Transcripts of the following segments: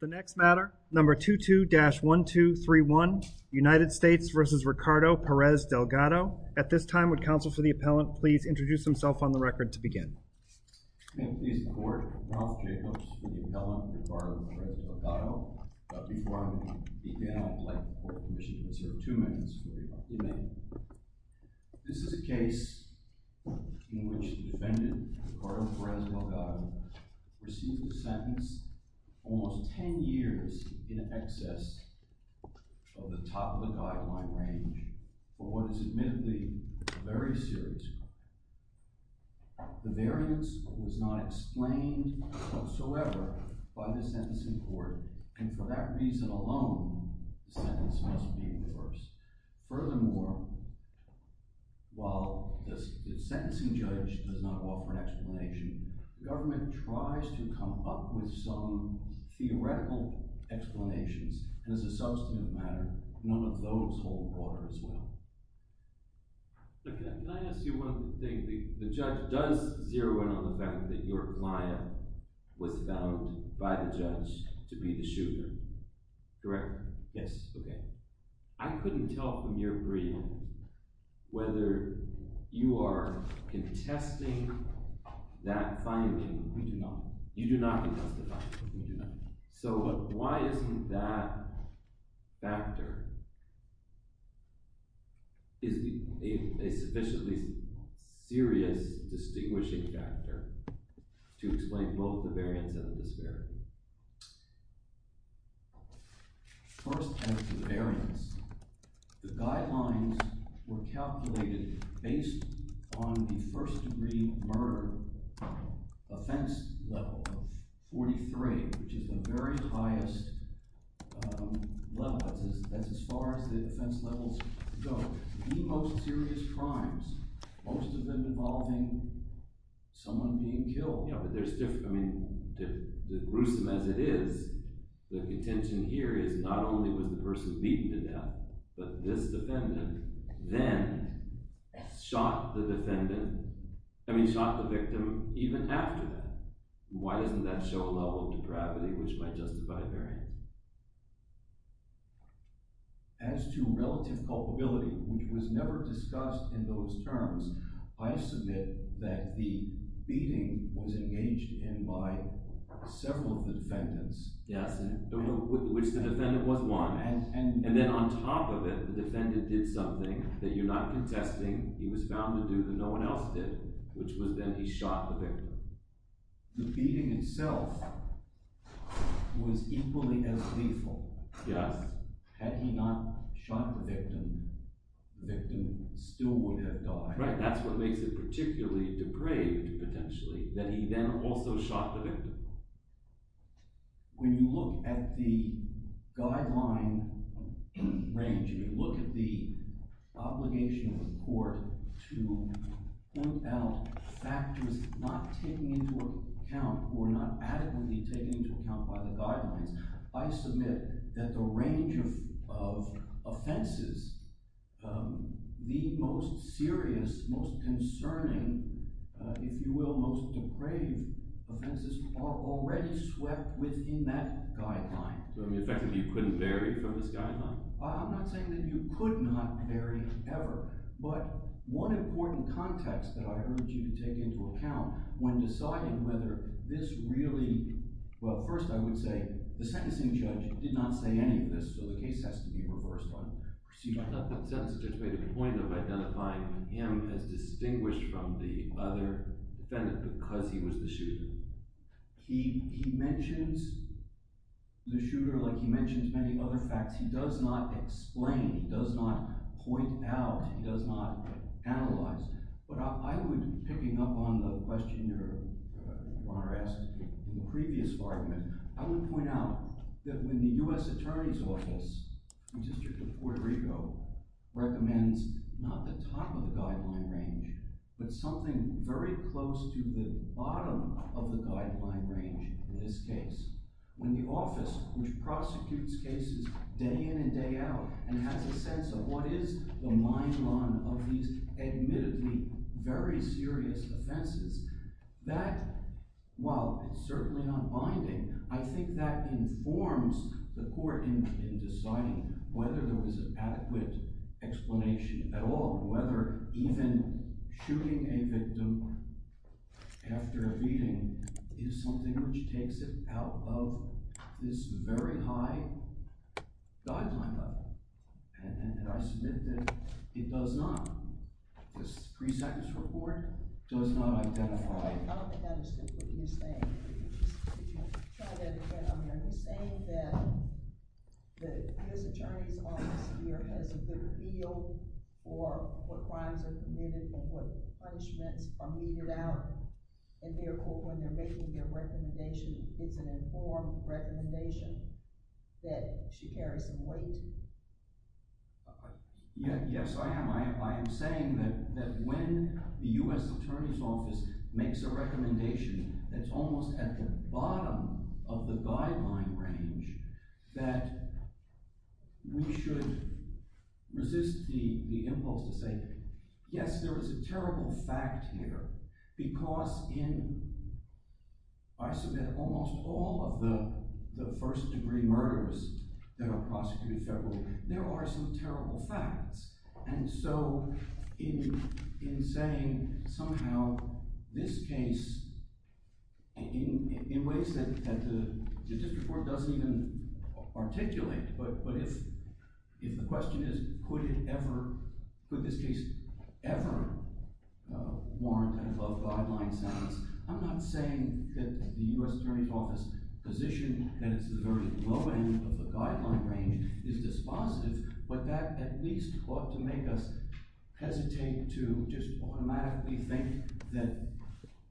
The next matter number 22-1231 United States versus Ricardo Perez-Delgado at this time would counsel for the appellant please introduce himself on the record to begin. Almost 10 years in excess of the top of the guideline range for what is admittedly very serious. The variance was not explained whatsoever by the sentencing court and for that reason alone the sentence must be reversed. Furthermore, while the sentencing judge does not offer an explanation, the government tries to come up with some theoretical explanations and as a substantive matter one of those hold water as well. Can I ask you one thing? The judge does zero in on the fact that your client was found by the judge to be the shooter, correct? Yes. Okay. I couldn't tell from your brief whether you are contesting that finding. We do not. You do not contest the finding. We do not. So why isn't that factor a sufficiently serious distinguishing factor to explain both the variance and the disparity? First as to the variance, the guidelines were calculated based on the first degree murder offense level, 43, which is the very highest level. That's as far as the offense levels go. The most serious crimes, most of them involving someone being killed. The gruesome as it is, the contention here is not only was the person beaten to death, but this defendant then shot the victim even after that. Why doesn't that show a level of depravity which might justify a variance? As to relative culpability, which was never discussed in those terms, I submit that the beating was engaged in by several of the defendants, which the defendant was one. And then on top of it, the defendant did something that you're not contesting. He was found to do that no one else did, which was then he shot the victim. The beating itself was equally as lethal. Had he not shot the victim, the victim still would have died. That's what makes it particularly depraved, potentially, that he then also shot the victim. When you look at the guideline range, when you look at the obligation of the court to point out factors not taken into account or not adequately taken into account by the guidelines, I submit that the range of offenses, the most serious, most concerning, if you will, the most depraved offenses are already swept within that guideline. Effectively, you couldn't vary from this guideline? I'm not saying that you could not vary ever, but one important context that I urge you to take into account when deciding whether this really – well, first I would say the sentencing judge did not say any of this, so the case has to be reversed on proceedings. I thought the sentencing judge made a point of identifying him as distinguished from the other defendant because he was the shooter. He mentions the shooter like he mentions many other facts. He does not explain. He does not point out. He does not analyze. But I would, picking up on the question your Honor asked in the previous argument, I would point out that when the U.S. Attorney's Office, the District of Puerto Rico, recommends not the top of the guideline range but something very close to the bottom of the guideline range, in this case, when the office which prosecutes cases day in and day out and has a sense of what is the mainline of these admittedly very serious offenses, that while it's certainly not binding, I think that informs the court in deciding whether there was an adequate explanation at all, whether even shooting a victim after a beating is something which takes it out of this very high guideline level. And I submit that it does not. This three-seconds report does not identify. I don't think I understand what you're saying. Could you try that again? Are you saying that the U.S. Attorney's Office here has a good feel for what crimes are committed or what punishments are meted out in their court when they're making their recommendation? It's an informed recommendation that should carry some weight? Yes, I am. I am saying that when the U.S. Attorney's Office makes a recommendation that's almost at the bottom of the guideline range, that we should resist the impulse to say, yes, there is a terrible fact here, because in, I submit, almost all of the first-degree murders that are prosecuted federally, there are some terrible facts. And so in saying somehow this case, in ways that the Judiciary Court doesn't even articulate, but if the question is, could this case ever warrant an above-guideline sentence, I'm not saying that the U.S. Attorney's Office's position that it's at the very low end of the guideline range is dispositive, but that at least ought to make us hesitate to just automatically think that,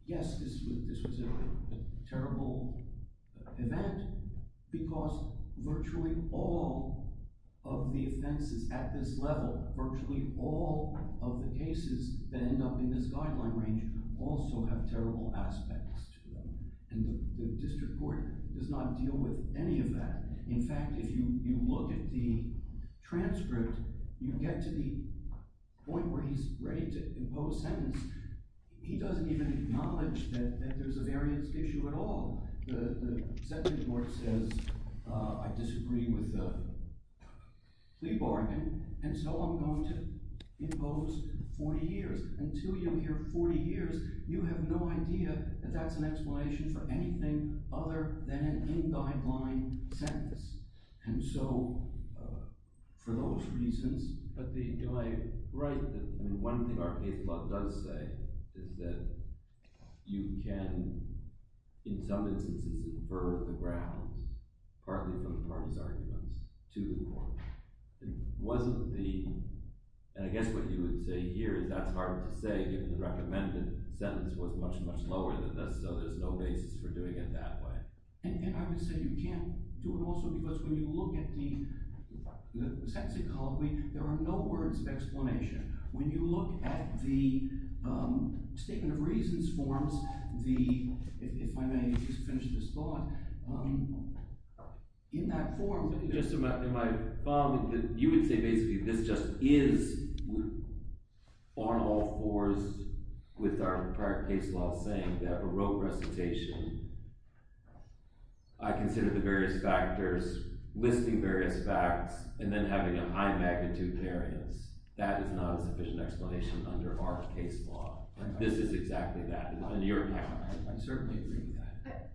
yes, this was a terrible event, because virtually all of the offenses at this level, virtually all of the cases that end up in this guideline range, also have terrible aspects to them. And the district court does not deal with any of that. In fact, if you look at the transcript, you get to the point where he's ready to impose sentence. He doesn't even acknowledge that there's a variance issue at all. The sentence court says, I disagree with the plea bargain, and so I'm going to impose 40 years. Until you hear 40 years, you have no idea that that's an explanation for anything other than an in-guideline sentence. And so for those reasons – But do I – right. One thing our case law does say is that you can, in some instances, infer the grounds, partly from the parties' arguments, to the court. It wasn't the – and I guess what you would say here is that's hard to say, given the recommended sentence was much, much lower than this, so there's no basis for doing it that way. And I would say you can't do it also because when you look at the sentence ecology, there are no words of explanation. When you look at the statement of reasons forms, the – if I may finish this thought – in that form – You would say basically this just is on all fours with our prior case law saying the Baroque recitation. I consider the various factors, listing various facts, and then having a high-magnitude variance. That is not a sufficient explanation under our case law. This is exactly that. I certainly agree with that.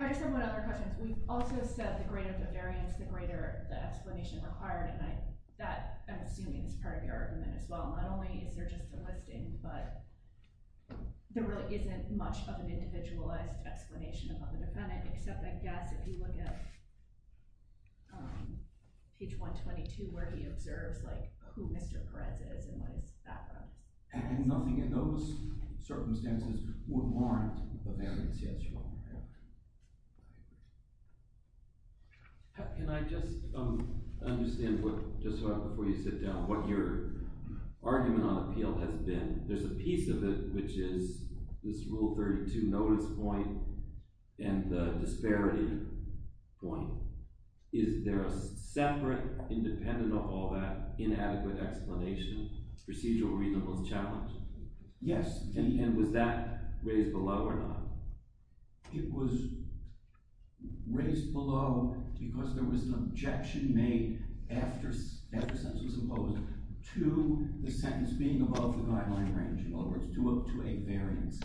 I just have one other question. We've also said the greater the variance, the greater the explanation required, and I – that, I'm assuming, is part of your argument as well. Not only is there just a listing, but there really isn't much of an individualized explanation about the defendant, except I guess if you look at page 122 where he observes, like, who Mr. Perez is and what his background is. And nothing in those circumstances would warrant a variance, yes or no? Can I just understand what – just before you sit down – what your argument on appeal has been? There's a piece of it which is this Rule 32 notice point and the disparity point. Is there a separate, independent of all that, inadequate explanation, procedural reasonableness challenge? Yes. And was that raised below or not? It was raised below because there was an objection made after sentence was imposed to the sentence being above the guideline range. In other words, to a variance.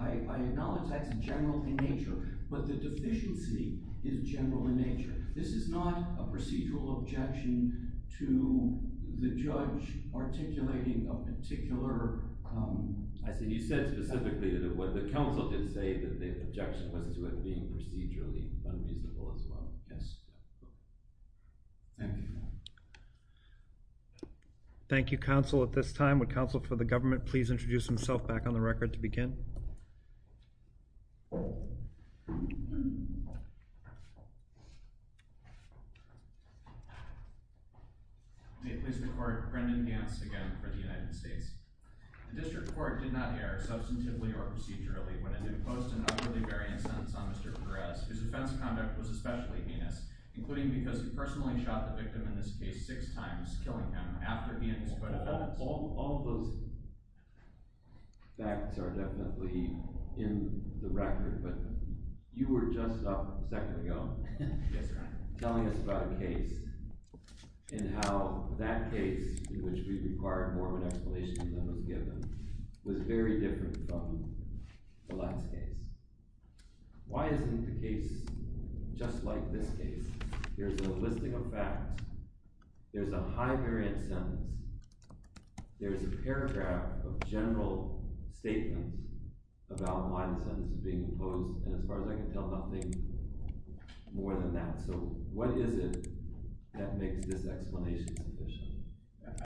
I acknowledge that's general in nature, but the deficiency is general in nature. This is not a procedural objection to the judge articulating a particular – I see. You said specifically that what the counsel did say that the objection was to it being procedurally unreasonable as well. Yes. Thank you. Thank you, Counsel. At this time, would Counsel for the Government please introduce himself back on the record to begin? May it please the Court, Brendan Hance again for the United States. The District Court did not err substantively or procedurally when it imposed an utterly variant sentence on Mr. Perez. His offense conduct was especially heinous, including because he personally shot the victim in this case six times, killing him after he and his co-defendants – All of those facts are definitely in the record, but you were just a second ago telling us about a case and how that case, in which we required more of an explanation than was given, was very different from the last case. Why isn't the case just like this case? There's a listing of facts, there's a high variant sentence, there's a paragraph of general statements about why the sentence is being imposed, and as far as I can tell, nothing more than that. So what is it that makes this explanation sufficient?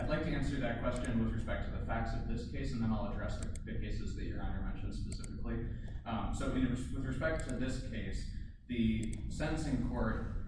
I'd like to answer that question with respect to the facts of this case, and then I'll address the cases that Your Honor mentioned specifically. With respect to this case, the sentencing court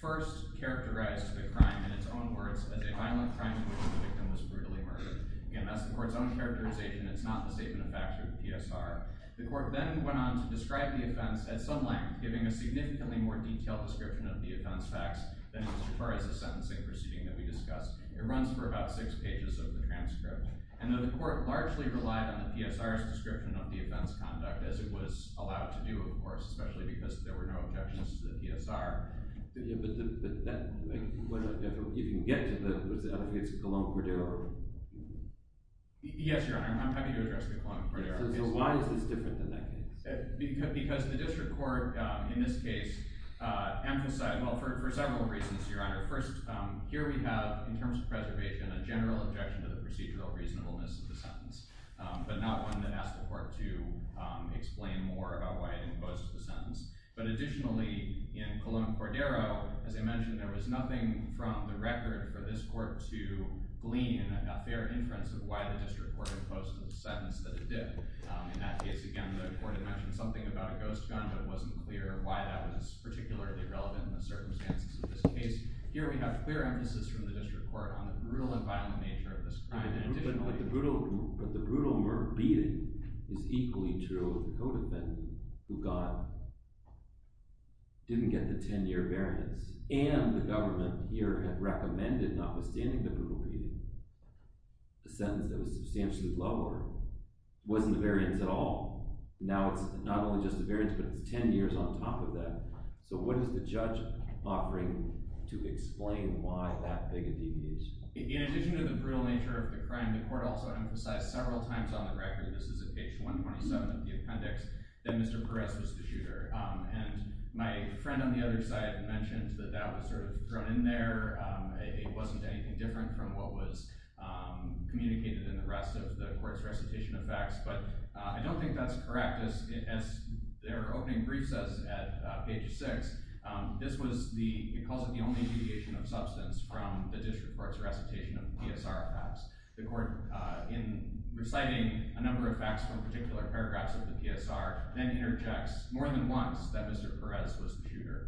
first characterized the crime in its own words as a violent crime in which the victim was brutally murdered. Again, that's the court's own characterization, it's not the statement of fact through the PSR. The court then went on to describe the offense at some length, giving a significantly more detailed description of the offense facts than Mr. Perez's sentencing proceeding that we discussed. It runs for about six pages of the transcript. And the court largely relied on the PSR's description of the offense conduct, as it was allowed to do, of course, especially because there were no objections to the PSR. But if you can get to the, does that mean it's a Cologne-Cordero case? Yes, Your Honor, I'm happy to address the Cologne-Cordero case. So why is this different than that case? Because the district court in this case emphasized, well, for several reasons, Your Honor. First, here we have, in terms of preservation, a general objection to the procedural reasonableness of the sentence, but not one that asked the court to explain more about why it imposed the sentence. But additionally, in Cologne-Cordero, as I mentioned, there was nothing from the record for this court to glean a fair inference of why the district court imposed the sentence that it did. In that case, again, the court had mentioned something about a ghost gun, but it wasn't clear why that was particularly relevant in the circumstances of this case. Here we have clear emphasis from the district court on the brutal and violent nature of this crime. But the brutal beating is equally true of the co-defendant, who didn't get the 10-year variance. And the government here had recommended, notwithstanding the brutal beating, a sentence that was substantially lower. It wasn't a variance at all. Now it's not only just a variance, but it's 10 years on top of that. So what is the judge offering to explain why that big a deviation? In addition to the brutal nature of the crime, the court also emphasized several times on the record—this is at page 127 of the appendix—that Mr. Perez was the shooter. And my friend on the other side mentioned that that was sort of thrown in there. It wasn't anything different from what was communicated in the rest of the court's recitation of facts. But I don't think that's correct. As their opening brief says at page 6, this was the—it calls it the only—deviation of substance from the district court's recitation of PSR facts. The court, in reciting a number of facts from particular paragraphs of the PSR, then interjects more than once that Mr. Perez was the shooter.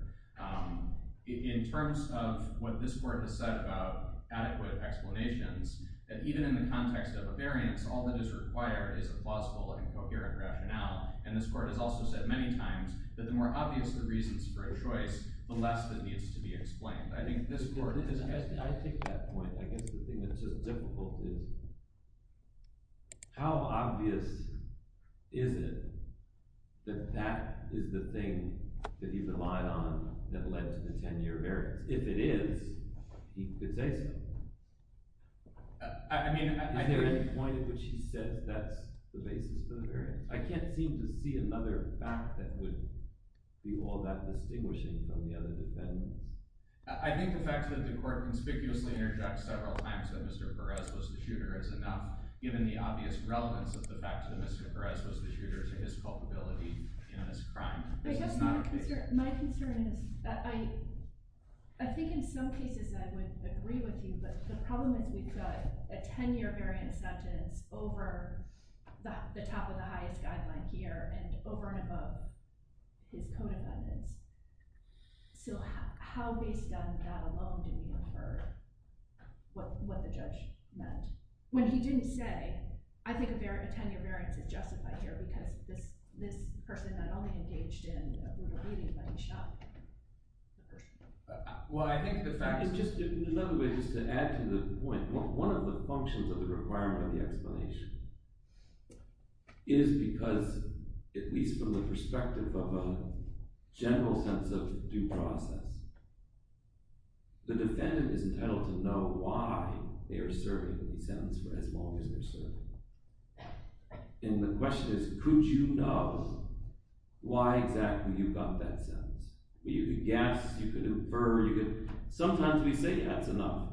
In terms of what this court has said about adequate explanations, that even in the context of a variance, all that is required is a plausible and coherent rationale. And this court has also said many times that the more obvious the reasons for a choice, the less that needs to be explained. I take that point. I guess the thing that's just difficult is how obvious is it that that is the thing that he relied on that led to the 10-year variance? If it is, he could say so. Is there any point at which he says that's the basis for the variance? I can't seem to see another fact that would be all that distinguishing from the other defendants. I think the fact that the court conspicuously interjects several times that Mr. Perez was the shooter is enough, given the obvious relevance of the fact that Mr. Perez was the shooter to his culpability in this crime. I guess my concern is—I think in some cases I would agree with you, but the problem is we've got a 10-year variance sentence over the top of the highest guideline here and over and above his code of evidence. So how, based on that alone, do we infer what the judge meant? When he didn't say, I think a 10-year variance is justified here because this person not only engaged in a brutal beating, but he shot the person. Well, I think the fact is, just in another way, just to add to the point, one of the functions of the requirement of the explanation is because, at least from the perspective of a general sense of due process, the defendant is entitled to know why they are serving the sentence for as long as they're serving it. And the question is, could you know why exactly you got that sentence? You could guess, you could infer, you could—sometimes we say that's enough,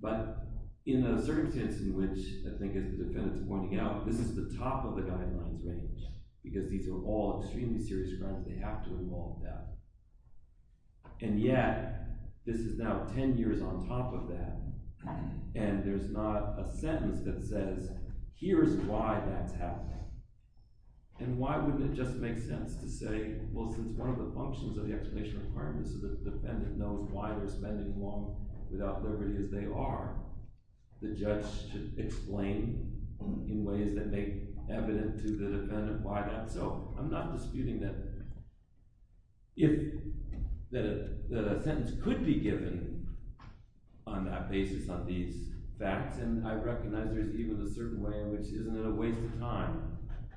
but in a circumstance in which, I think as the defendant's pointing out, this is the top of the guidelines range, because these are all extremely serious crimes, they have to involve that. And yet, this is now 10 years on top of that, and there's not a sentence that says, here's why that's happening. And why wouldn't it just make sense to say, well, since one of the functions of the explanation requirement is so that the defendant knows why they're spending as long without liberty as they are, the judge should explain in ways that make evident to the defendant why that— So I'm not disputing that a sentence could be given on that basis, on these facts, and I recognize there's even a certain way in which isn't it a waste of time?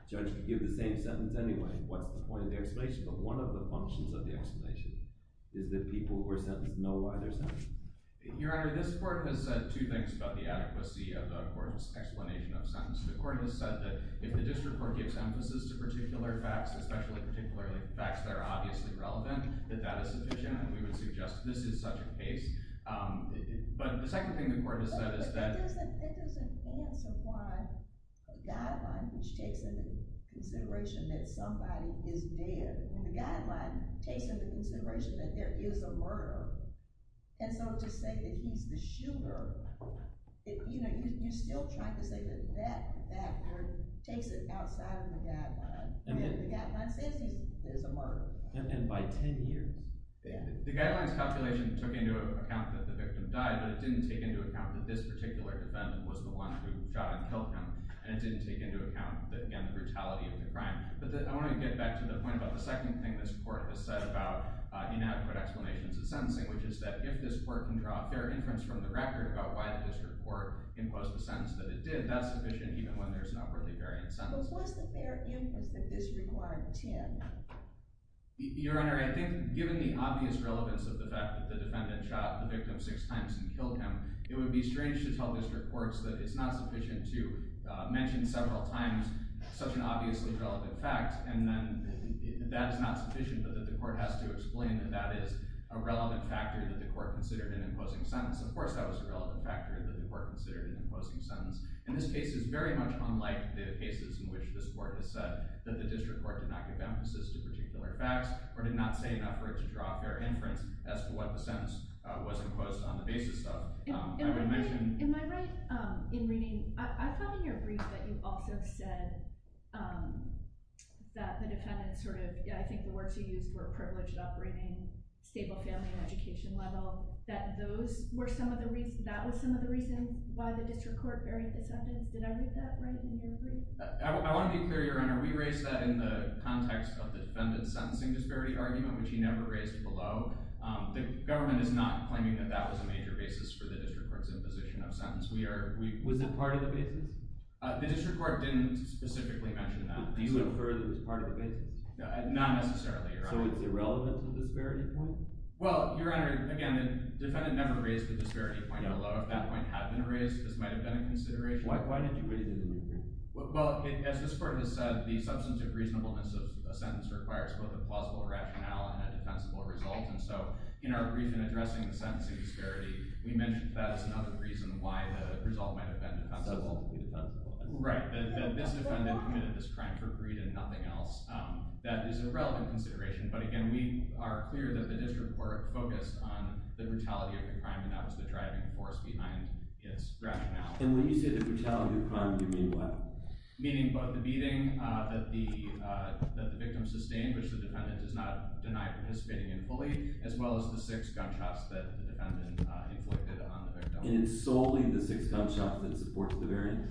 The judge could give the same sentence anyway. What's the point of the explanation? But one of the functions of the explanation is that people who are sentenced know why they're sentenced. Your Honor, this court has said two things about the adequacy of the court's explanation of sentence. The court has said that if the district court gives emphasis to particular facts, especially particularly facts that are obviously relevant, that that is sufficient, and we would suggest this is such a case. But the second thing the court has said is that— It doesn't answer why the guideline, which takes into consideration that somebody is dead, and the guideline takes into consideration that there is a murderer. And so to say that he's the shooter, you're still trying to say that that factor takes it outside of the guideline. The guideline says there's a murderer. And by 10 years. The guideline's calculation took into account that the victim died, but it didn't take into account that this particular defendant was the one who shot and killed him. And it didn't take into account, again, the brutality of the crime. But I want to get back to the point about the second thing this court has said about inadequate explanations of sentencing, which is that if this court can draw a fair inference from the record about why the district court imposed the sentence that it did, that's sufficient even when there's not really a variant sentence. But was the fair inference that this required 10? Your Honor, I think given the obvious relevance of the fact that the defendant shot the victim six times and killed him, it would be strange to tell district courts that it's not sufficient to mention several times such an obviously relevant fact. And then that is not sufficient, but that the court has to explain that that is a relevant factor that the court considered in imposing sentence. Of course that was a relevant factor that the court considered in imposing sentence. And this case is very much unlike the cases in which this court has said that the district court did not give emphasis to particular facts or did not say enough for it to draw a fair inference as to what the sentence was imposed on the basis of. In my right in reading, I found in your brief that you also said that the defendant sort of, I think the words you used were privileged operating, stable family education level, that those were some of the reasons, that was some of the reason why the district court buried the sentence. Did I read that right in your brief? I want to be clear, Your Honor. We raised that in the context of the defendant's sentencing disparity argument, which he never raised below. The government is not claiming that that was a major basis for the district court's imposition of sentence. Was it part of the basis? The district court didn't specifically mention that. Do you infer that it was part of the basis? Not necessarily, Your Honor. So it's irrelevant to the disparity point? Well, Your Honor, again, the defendant never raised the disparity point below. If that point had been raised, this might have been a consideration. Why did you raise it in your brief? Well, as this court has said, the substantive reasonableness of a sentence requires both a plausible rationale and a defensible result. And so in our brief in addressing the sentencing disparity, we mentioned that as another reason why the result might have been defensible. Right, that this defendant committed this crime for greed and nothing else. That is a relevant consideration. But again, we are clear that the district court focused on the brutality of the crime, and that was the driving force behind its rationale. And when you say the brutality of the crime, you mean what? Meaning both the beating that the victim sustained, which the defendant does not deny participating in fully, as well as the six gunshots that the defendant inflicted on the victim. And it's solely the six gunshots that support the variance?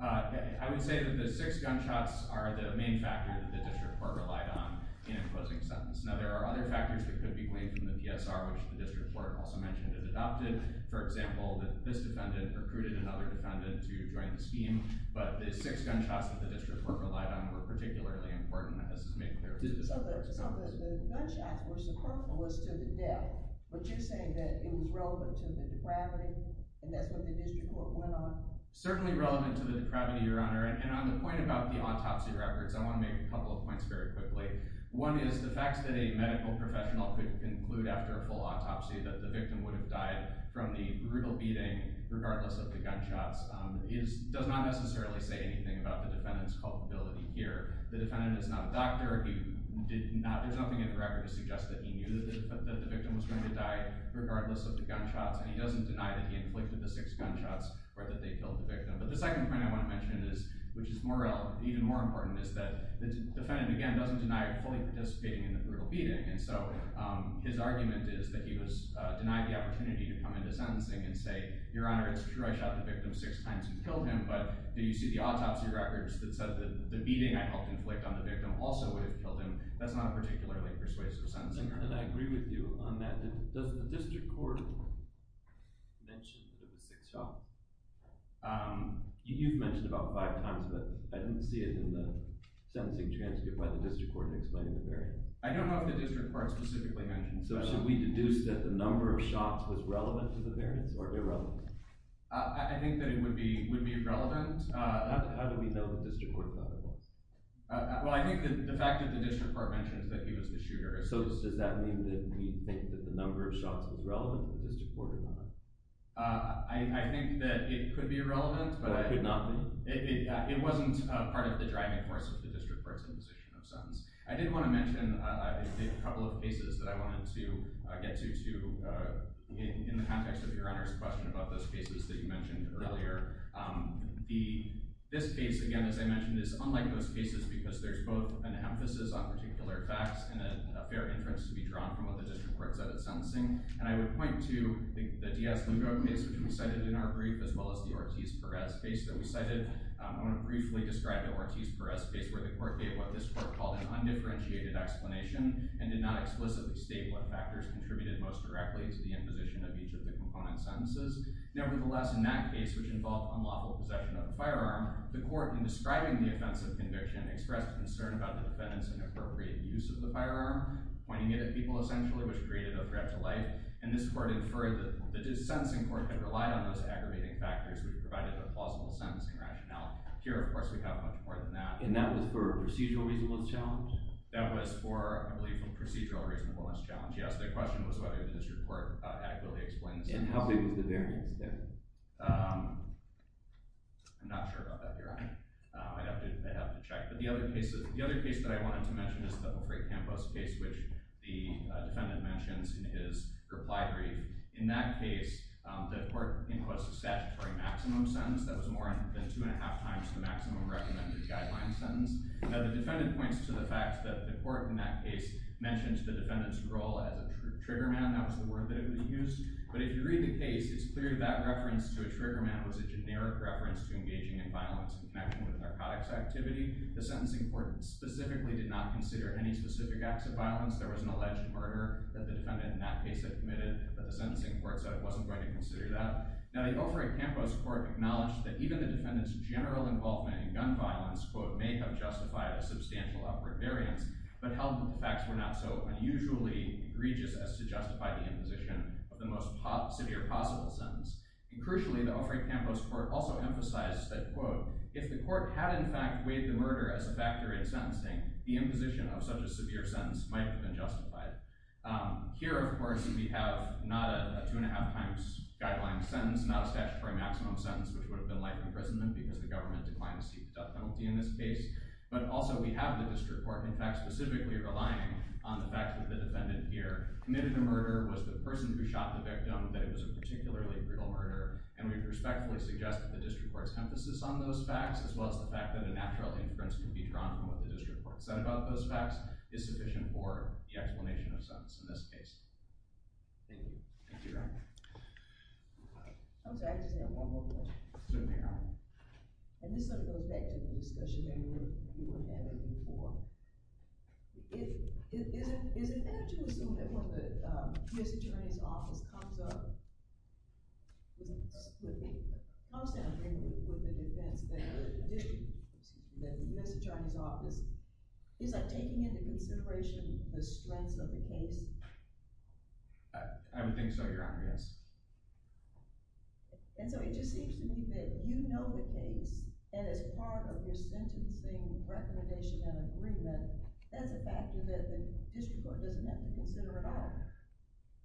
I would say that the six gunshots are the main factor that the district court relied on in imposing sentence. Now, there are other factors that could be gleaned from the PSR, which the district court also mentioned it adopted. For example, that this defendant recruited another defendant to join the scheme. But the six gunshots that the district court relied on were particularly important, and this is made clear by the district court's comments. So the gunshots were superfluous to the death, but you're saying that it was relevant to the depravity, and that's what the district court went on? Certainly relevant to the depravity, Your Honor. And on the point about the autopsy records, I want to make a couple of points very quickly. One is the fact that a medical professional could conclude after a full autopsy that the victim would have died from the brutal beating, regardless of the gunshots, does not necessarily say anything about the defendant's culpability here. The defendant is not a doctor. There's nothing in the record to suggest that he knew that the victim was going to die, regardless of the gunshots, and he doesn't deny that he inflicted the six gunshots or that they killed the victim. But the second point I want to mention, which is even more important, is that the defendant, again, doesn't deny fully participating in the brutal beating. And so his argument is that he was denied the opportunity to come into sentencing and say, Your Honor, it's true I shot the victim six times and killed him, but do you see the autopsy records that said that the beating I helped inflict on the victim also would have killed him? That's not a particularly persuasive sentencing. And I agree with you on that. Does the district court mention the six shots? You've mentioned it about five times, but I didn't see it in the sentencing transcript by the district court explaining the variance. I don't know if the district court specifically mentioned it. So should we deduce that the number of shots was relevant to the variance or irrelevant? I think that it would be relevant. How do we know the district court thought it was? Well, I think the fact that the district court mentions that he was the shooter. So does that mean that we think that the number of shots was relevant to the district court or not? I think that it could be relevant, but it wasn't part of the driving force of the district court's imposition of sentence. I did want to mention a couple of cases that I wanted to get to in the context of Your Honor's question about those cases that you mentioned earlier. This case, again, as I mentioned, is unlike those cases because there's both an emphasis on particular facts and a fair inference to be drawn from what the district court said in sentencing. And I would point to the Diaz-Lugo case, which we cited in our brief, as well as the Ortiz-Perez case that we cited. I want to briefly describe the Ortiz-Perez case where the court gave what this court called an undifferentiated explanation and did not explicitly state what factors contributed most directly to the imposition of each of the component sentences. Nevertheless, in that case, which involved unlawful possession of a firearm, the court, in describing the offense of conviction, expressed concern about the defendant's inappropriate use of the firearm, pointing it at people essentially, which created a threat to life. And this court inferred that the sentencing court had relied on those aggravating factors, which provided a plausible sentencing rationale. Here, of course, we have much more than that. And that was for a procedural reasonableness challenge? That was for, I believe, a procedural reasonableness challenge, yes. The question was whether the district court adequately explained the sentencing. And how big was the variance there? I'm not sure about that, Your Honor. I'd have to check. But the other case that I wanted to mention is the O'Fray-Campos case, which the defendant mentions in his reply brief. In that case, the court inquests a statutory maximum sentence. That was more than two and a half times the maximum recommended guideline sentence. Now, the defendant points to the fact that the court, in that case, mentioned the defendant's role as a trigger man. That was the word that he used. But if you read the case, it's clear that reference to a trigger man was a generic reference to engaging in violence in connection with a narcotics activity. The sentencing court specifically did not consider any specific acts of violence. There was an alleged murder that the defendant, in that case, had committed. But the sentencing court said it wasn't going to consider that. Now, the O'Fray-Campos court acknowledged that even the defendant's general involvement in gun violence, quote, may have justified a substantial upward variance, but held that the facts were not so unusually egregious as to justify the imposition of the most severe possible sentence. And crucially, the O'Fray-Campos court also emphasized that, quote, if the court had in fact weighed the murder as a factor in sentencing, the imposition of such a severe sentence might have been justified. Here, of course, we have not a two and a half times guideline sentence, not a statutory maximum sentence, which would have been likely imprisonment because the government declined to seek the death penalty in this case. But also, we have the district court, in fact, specifically relying on the fact that the defendant here committed the murder, was the person who shot the victim, that it was a particularly brutal murder. And we respectfully suggest that the district court's emphasis on those facts, as well as the fact that a natural inference can be drawn from what the district court said about those facts, is sufficient for the explanation of sentence in this case. Thank you. Thank you, Your Honor. I'm sorry, I just have one more question. Certainly, Your Honor. And this sort of goes back to the discussion that we were having before. Is it fair to assume that when the U.S. Attorney's Office comes up with the defense, the U.S. Attorney's Office, is that taking into consideration the strengths of the case? I would think so, Your Honor, yes. And so it just seems to me that you know the case, and as part of your sentencing recommendation and agreement, that's a factor that the district court doesn't have to consider at all.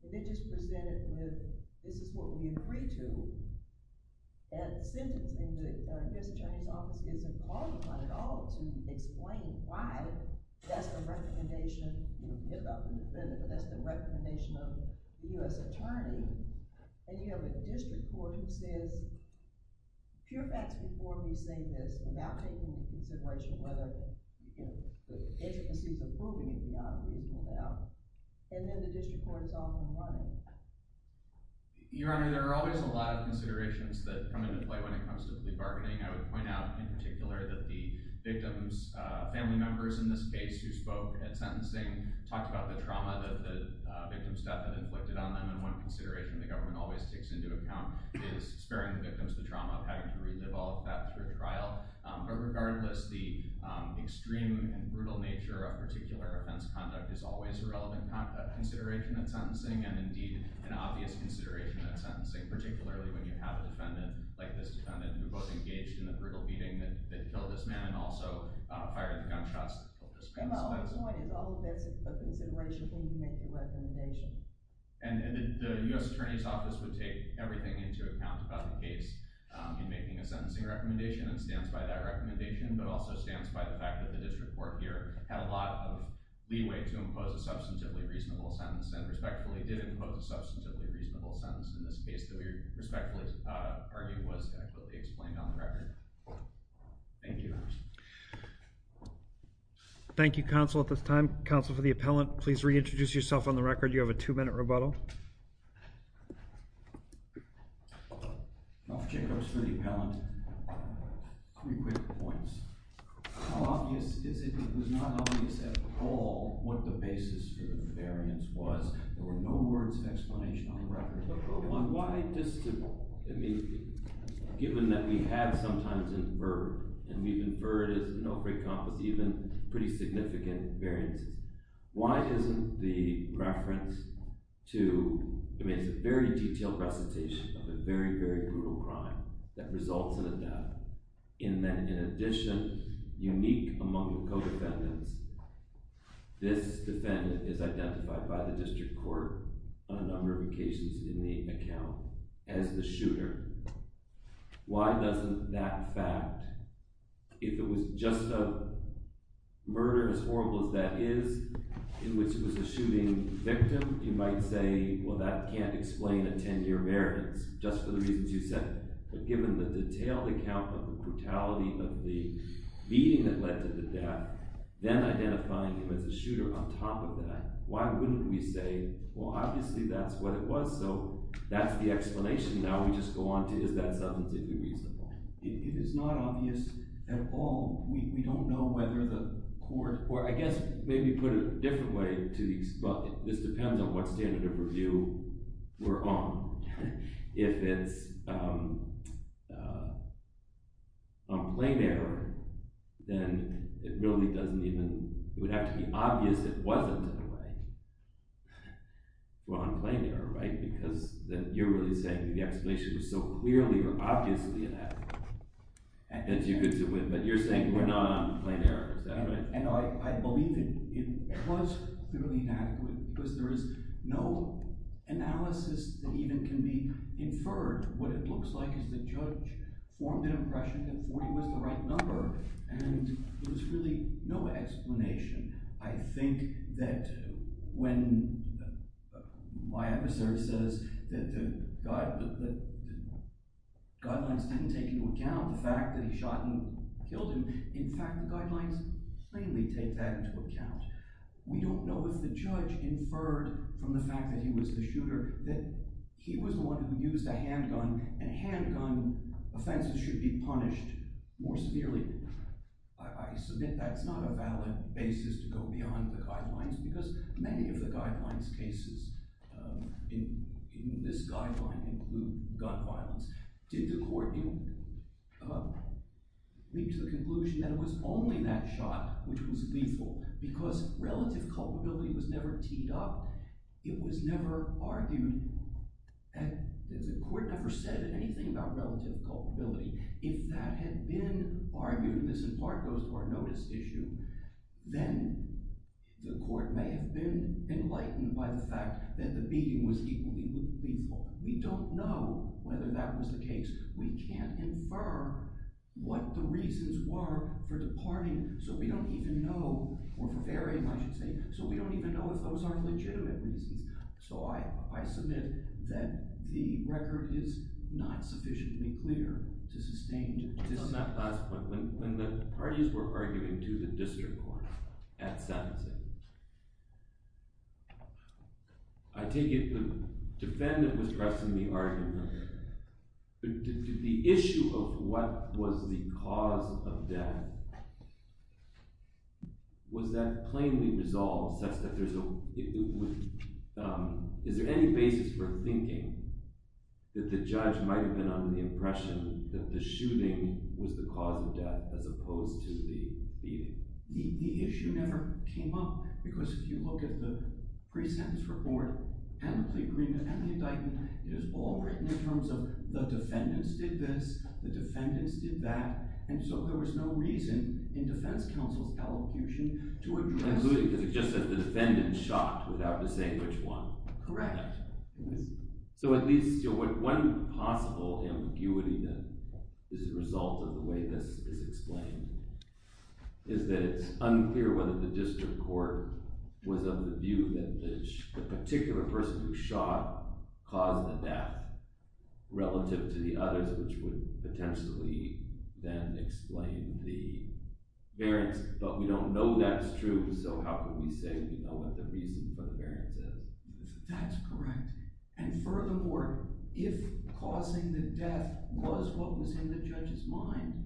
They just present it with, this is what we agree to, and sentencing the U.S. Attorney's Office isn't called upon at all to explain why that's the recommendation, you know, about the defendant, but that's the recommendation of the U.S. Attorney. And you have a district court who says, pure facts before me say this, without taking into consideration whether, you know, the intricacies of proving it beyond reasonable doubt. And then the district court is all in one. Your Honor, there are always a lot of considerations that come into play when it comes to plea bargaining. I would point out in particular that the victim's family members in this case who spoke at sentencing talked about the trauma that the victim's staff had inflicted on them, and one consideration the government always takes into account is sparing the victims the trauma of having to relive all of that through trial. But regardless, the extreme and brutal nature of particular offense conduct is always a relevant consideration at sentencing, and indeed an obvious consideration at sentencing, particularly when you have a defendant like this defendant who both engaged in the brutal beating that killed this man and also fired the gunshots that killed this man. My whole point is all of that's a consideration when you make a recommendation. And the U.S. Attorney's Office would take everything into account about the case in making a sentencing recommendation, and it stands by that recommendation, but it also stands by the fact that the district court here had a lot of leeway to impose a substantively reasonable sentence and respectfully did impose a substantively reasonable sentence in this case that we respectfully argue was adequately explained on the record. Thank you. Thank you, counsel, at this time. Counsel for the appellant, please reintroduce yourself on the record. You have a two-minute rebuttal. Counsel for the appellant, three quick points. How obvious is it that it was not obvious at all what the basis for the variance was? There were no words of explanation on the record. Number one, why just to – I mean, given that we have sometimes inferred, and we've inferred no great compass, even pretty significant variances, why isn't the reference to – I mean, it's a very detailed recitation of a very, very brutal crime that results in a death, in that in addition, unique among the co-defendants, this defendant is identified by the district court on a number of occasions in the account as the shooter. Why doesn't that fact – if it was just a murder, as horrible as that is, in which it was a shooting victim, you might say, well, that can't explain a 10-year variance, just for the reasons you said. But given the detailed account of the brutality of the beating that led to the death, then identifying him as a shooter on top of that, why wouldn't we say, well, obviously that's what it was? So that's the explanation. Now we just go on to is that substantively reasonable? It is not obvious at all. We don't know whether the court – or I guess maybe put it a different way. This depends on what standard of review we're on. If it's on plain error, then it really doesn't even – it would have to be obvious it wasn't. Well, on plain error, right? Because you're really saying the explanation was so clearly or obviously inadequate that you get to win, but you're saying we're not on plain error. Is that right? I believe it was clearly inadequate because there is no analysis that even can be inferred. What it looks like is the judge formed an impression that 40 was the right number, and there's really no explanation. I think that when my emissary says that the guidelines didn't take into account the fact that he shot and killed him, in fact, the guidelines plainly take that into account. We don't know if the judge inferred from the fact that he was the shooter that he was the one who used a handgun, and handgun offenses should be punished more severely. I submit that's not a valid basis to go beyond the guidelines because many of the guidelines cases in this guideline include gun violence. Did the court reach the conclusion that it was only that shot which was lethal because relative culpability was never teed up? It was never argued. The court never said anything about relative culpability. If that had been argued, and this in part goes to our notice issue, then the court may have been enlightened by the fact that the beating was equally lethal. We don't know whether that was the case. We can't infer what the reasons were for departing so we don't even know, or for varying I should say, so we don't even know if those are legitimate reasons. So I submit that the record is not sufficiently clear to sustain. On that last point, when the parties were arguing to the district court at Samson, I take it the defendant was pressing the argument. Did the issue of what was the cause of death, was that plainly resolved? Is there any basis for thinking that the judge might have been under the impression that the shooting was the cause of death as opposed to the beating? The issue never came up because if you look at the pre-sentence report and the plea agreement and the indictment, it is all written in terms of the defendants did this, the defendants did that, and so there was no reason in defense counsel's elocution to address... Including because it just said the defendant shot without saying which one. Correct. So at least one possible ambiguity that is a result of the way this is explained is that it's unclear whether the district court was of the view that the particular person who shot caused the death relative to the others, which would potentially then explain the variance. But we don't know that's true, so how can we say we know what the reason for the variance is? That's correct. And furthermore, if causing the death was what was in the judge's mind,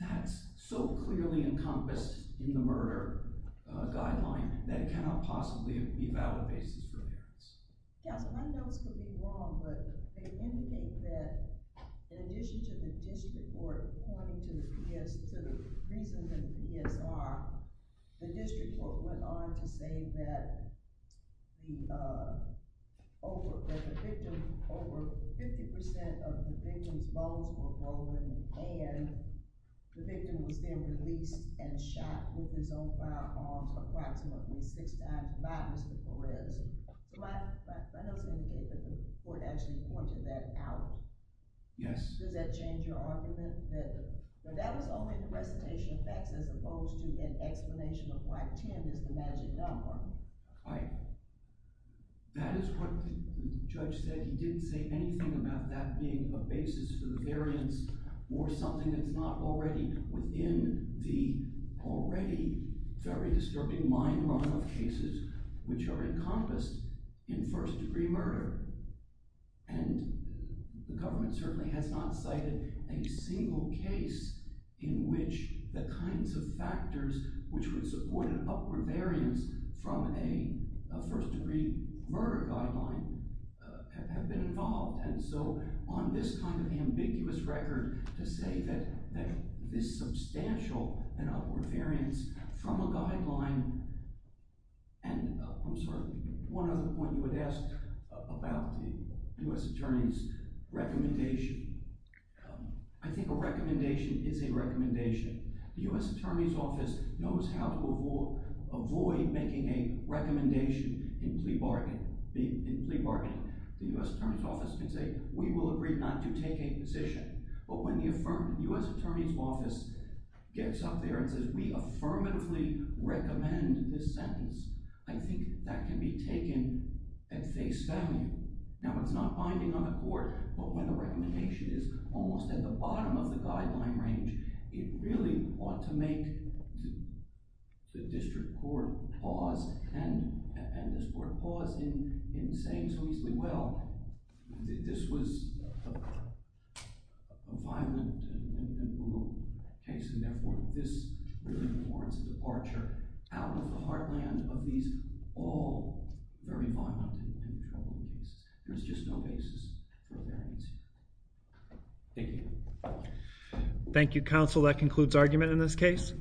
that's so clearly encompassed in the murder guideline that it cannot possibly be a valid basis for variance. Counsel, I know this could be wrong, but they indicate that in addition to the district court pointing to the reason for the PSR, the district court went on to say that over 50% of the victim's bones were broken and the victim was then released and shot with his own firearms approximately six times by Mr. Perez. So that does indicate that the court actually pointed that out. Yes. Does that change your argument that that was only the recitation of facts as opposed to an explanation of why 10 is the magic number? That is what the judge said. He didn't say anything about that being a basis for the variance or something that's not already within the already very disturbing mind run of cases which are encompassed in first degree murder. And the government certainly has not cited a single case in which the kinds of factors which would support an upward variance from a first degree murder guideline have been involved. And so on this kind of ambiguous record to say that this substantial and upward variance from a guideline and I'm sorry, one other point you would ask about the U.S. Attorney's recommendation. I think a recommendation is a recommendation. The U.S. Attorney's Office knows how to avoid making a recommendation in plea bargaining. The U.S. Attorney's Office can say we will agree not to take a position. But when the U.S. Attorney's Office gets up there and says we affirmatively recommend this sentence, I think that can be taken at face value. Now it's not binding on the court, but when the recommendation is almost at the bottom of the guideline range, it really ought to make the district court pause and this court pause in saying so easily, well, this was a violent and brutal case and therefore this warrants a departure out of the heartland of these all very violent and troubling cases. There's just no basis for a variance here. Thank you. Thank you, counsel. That concludes argument in this case.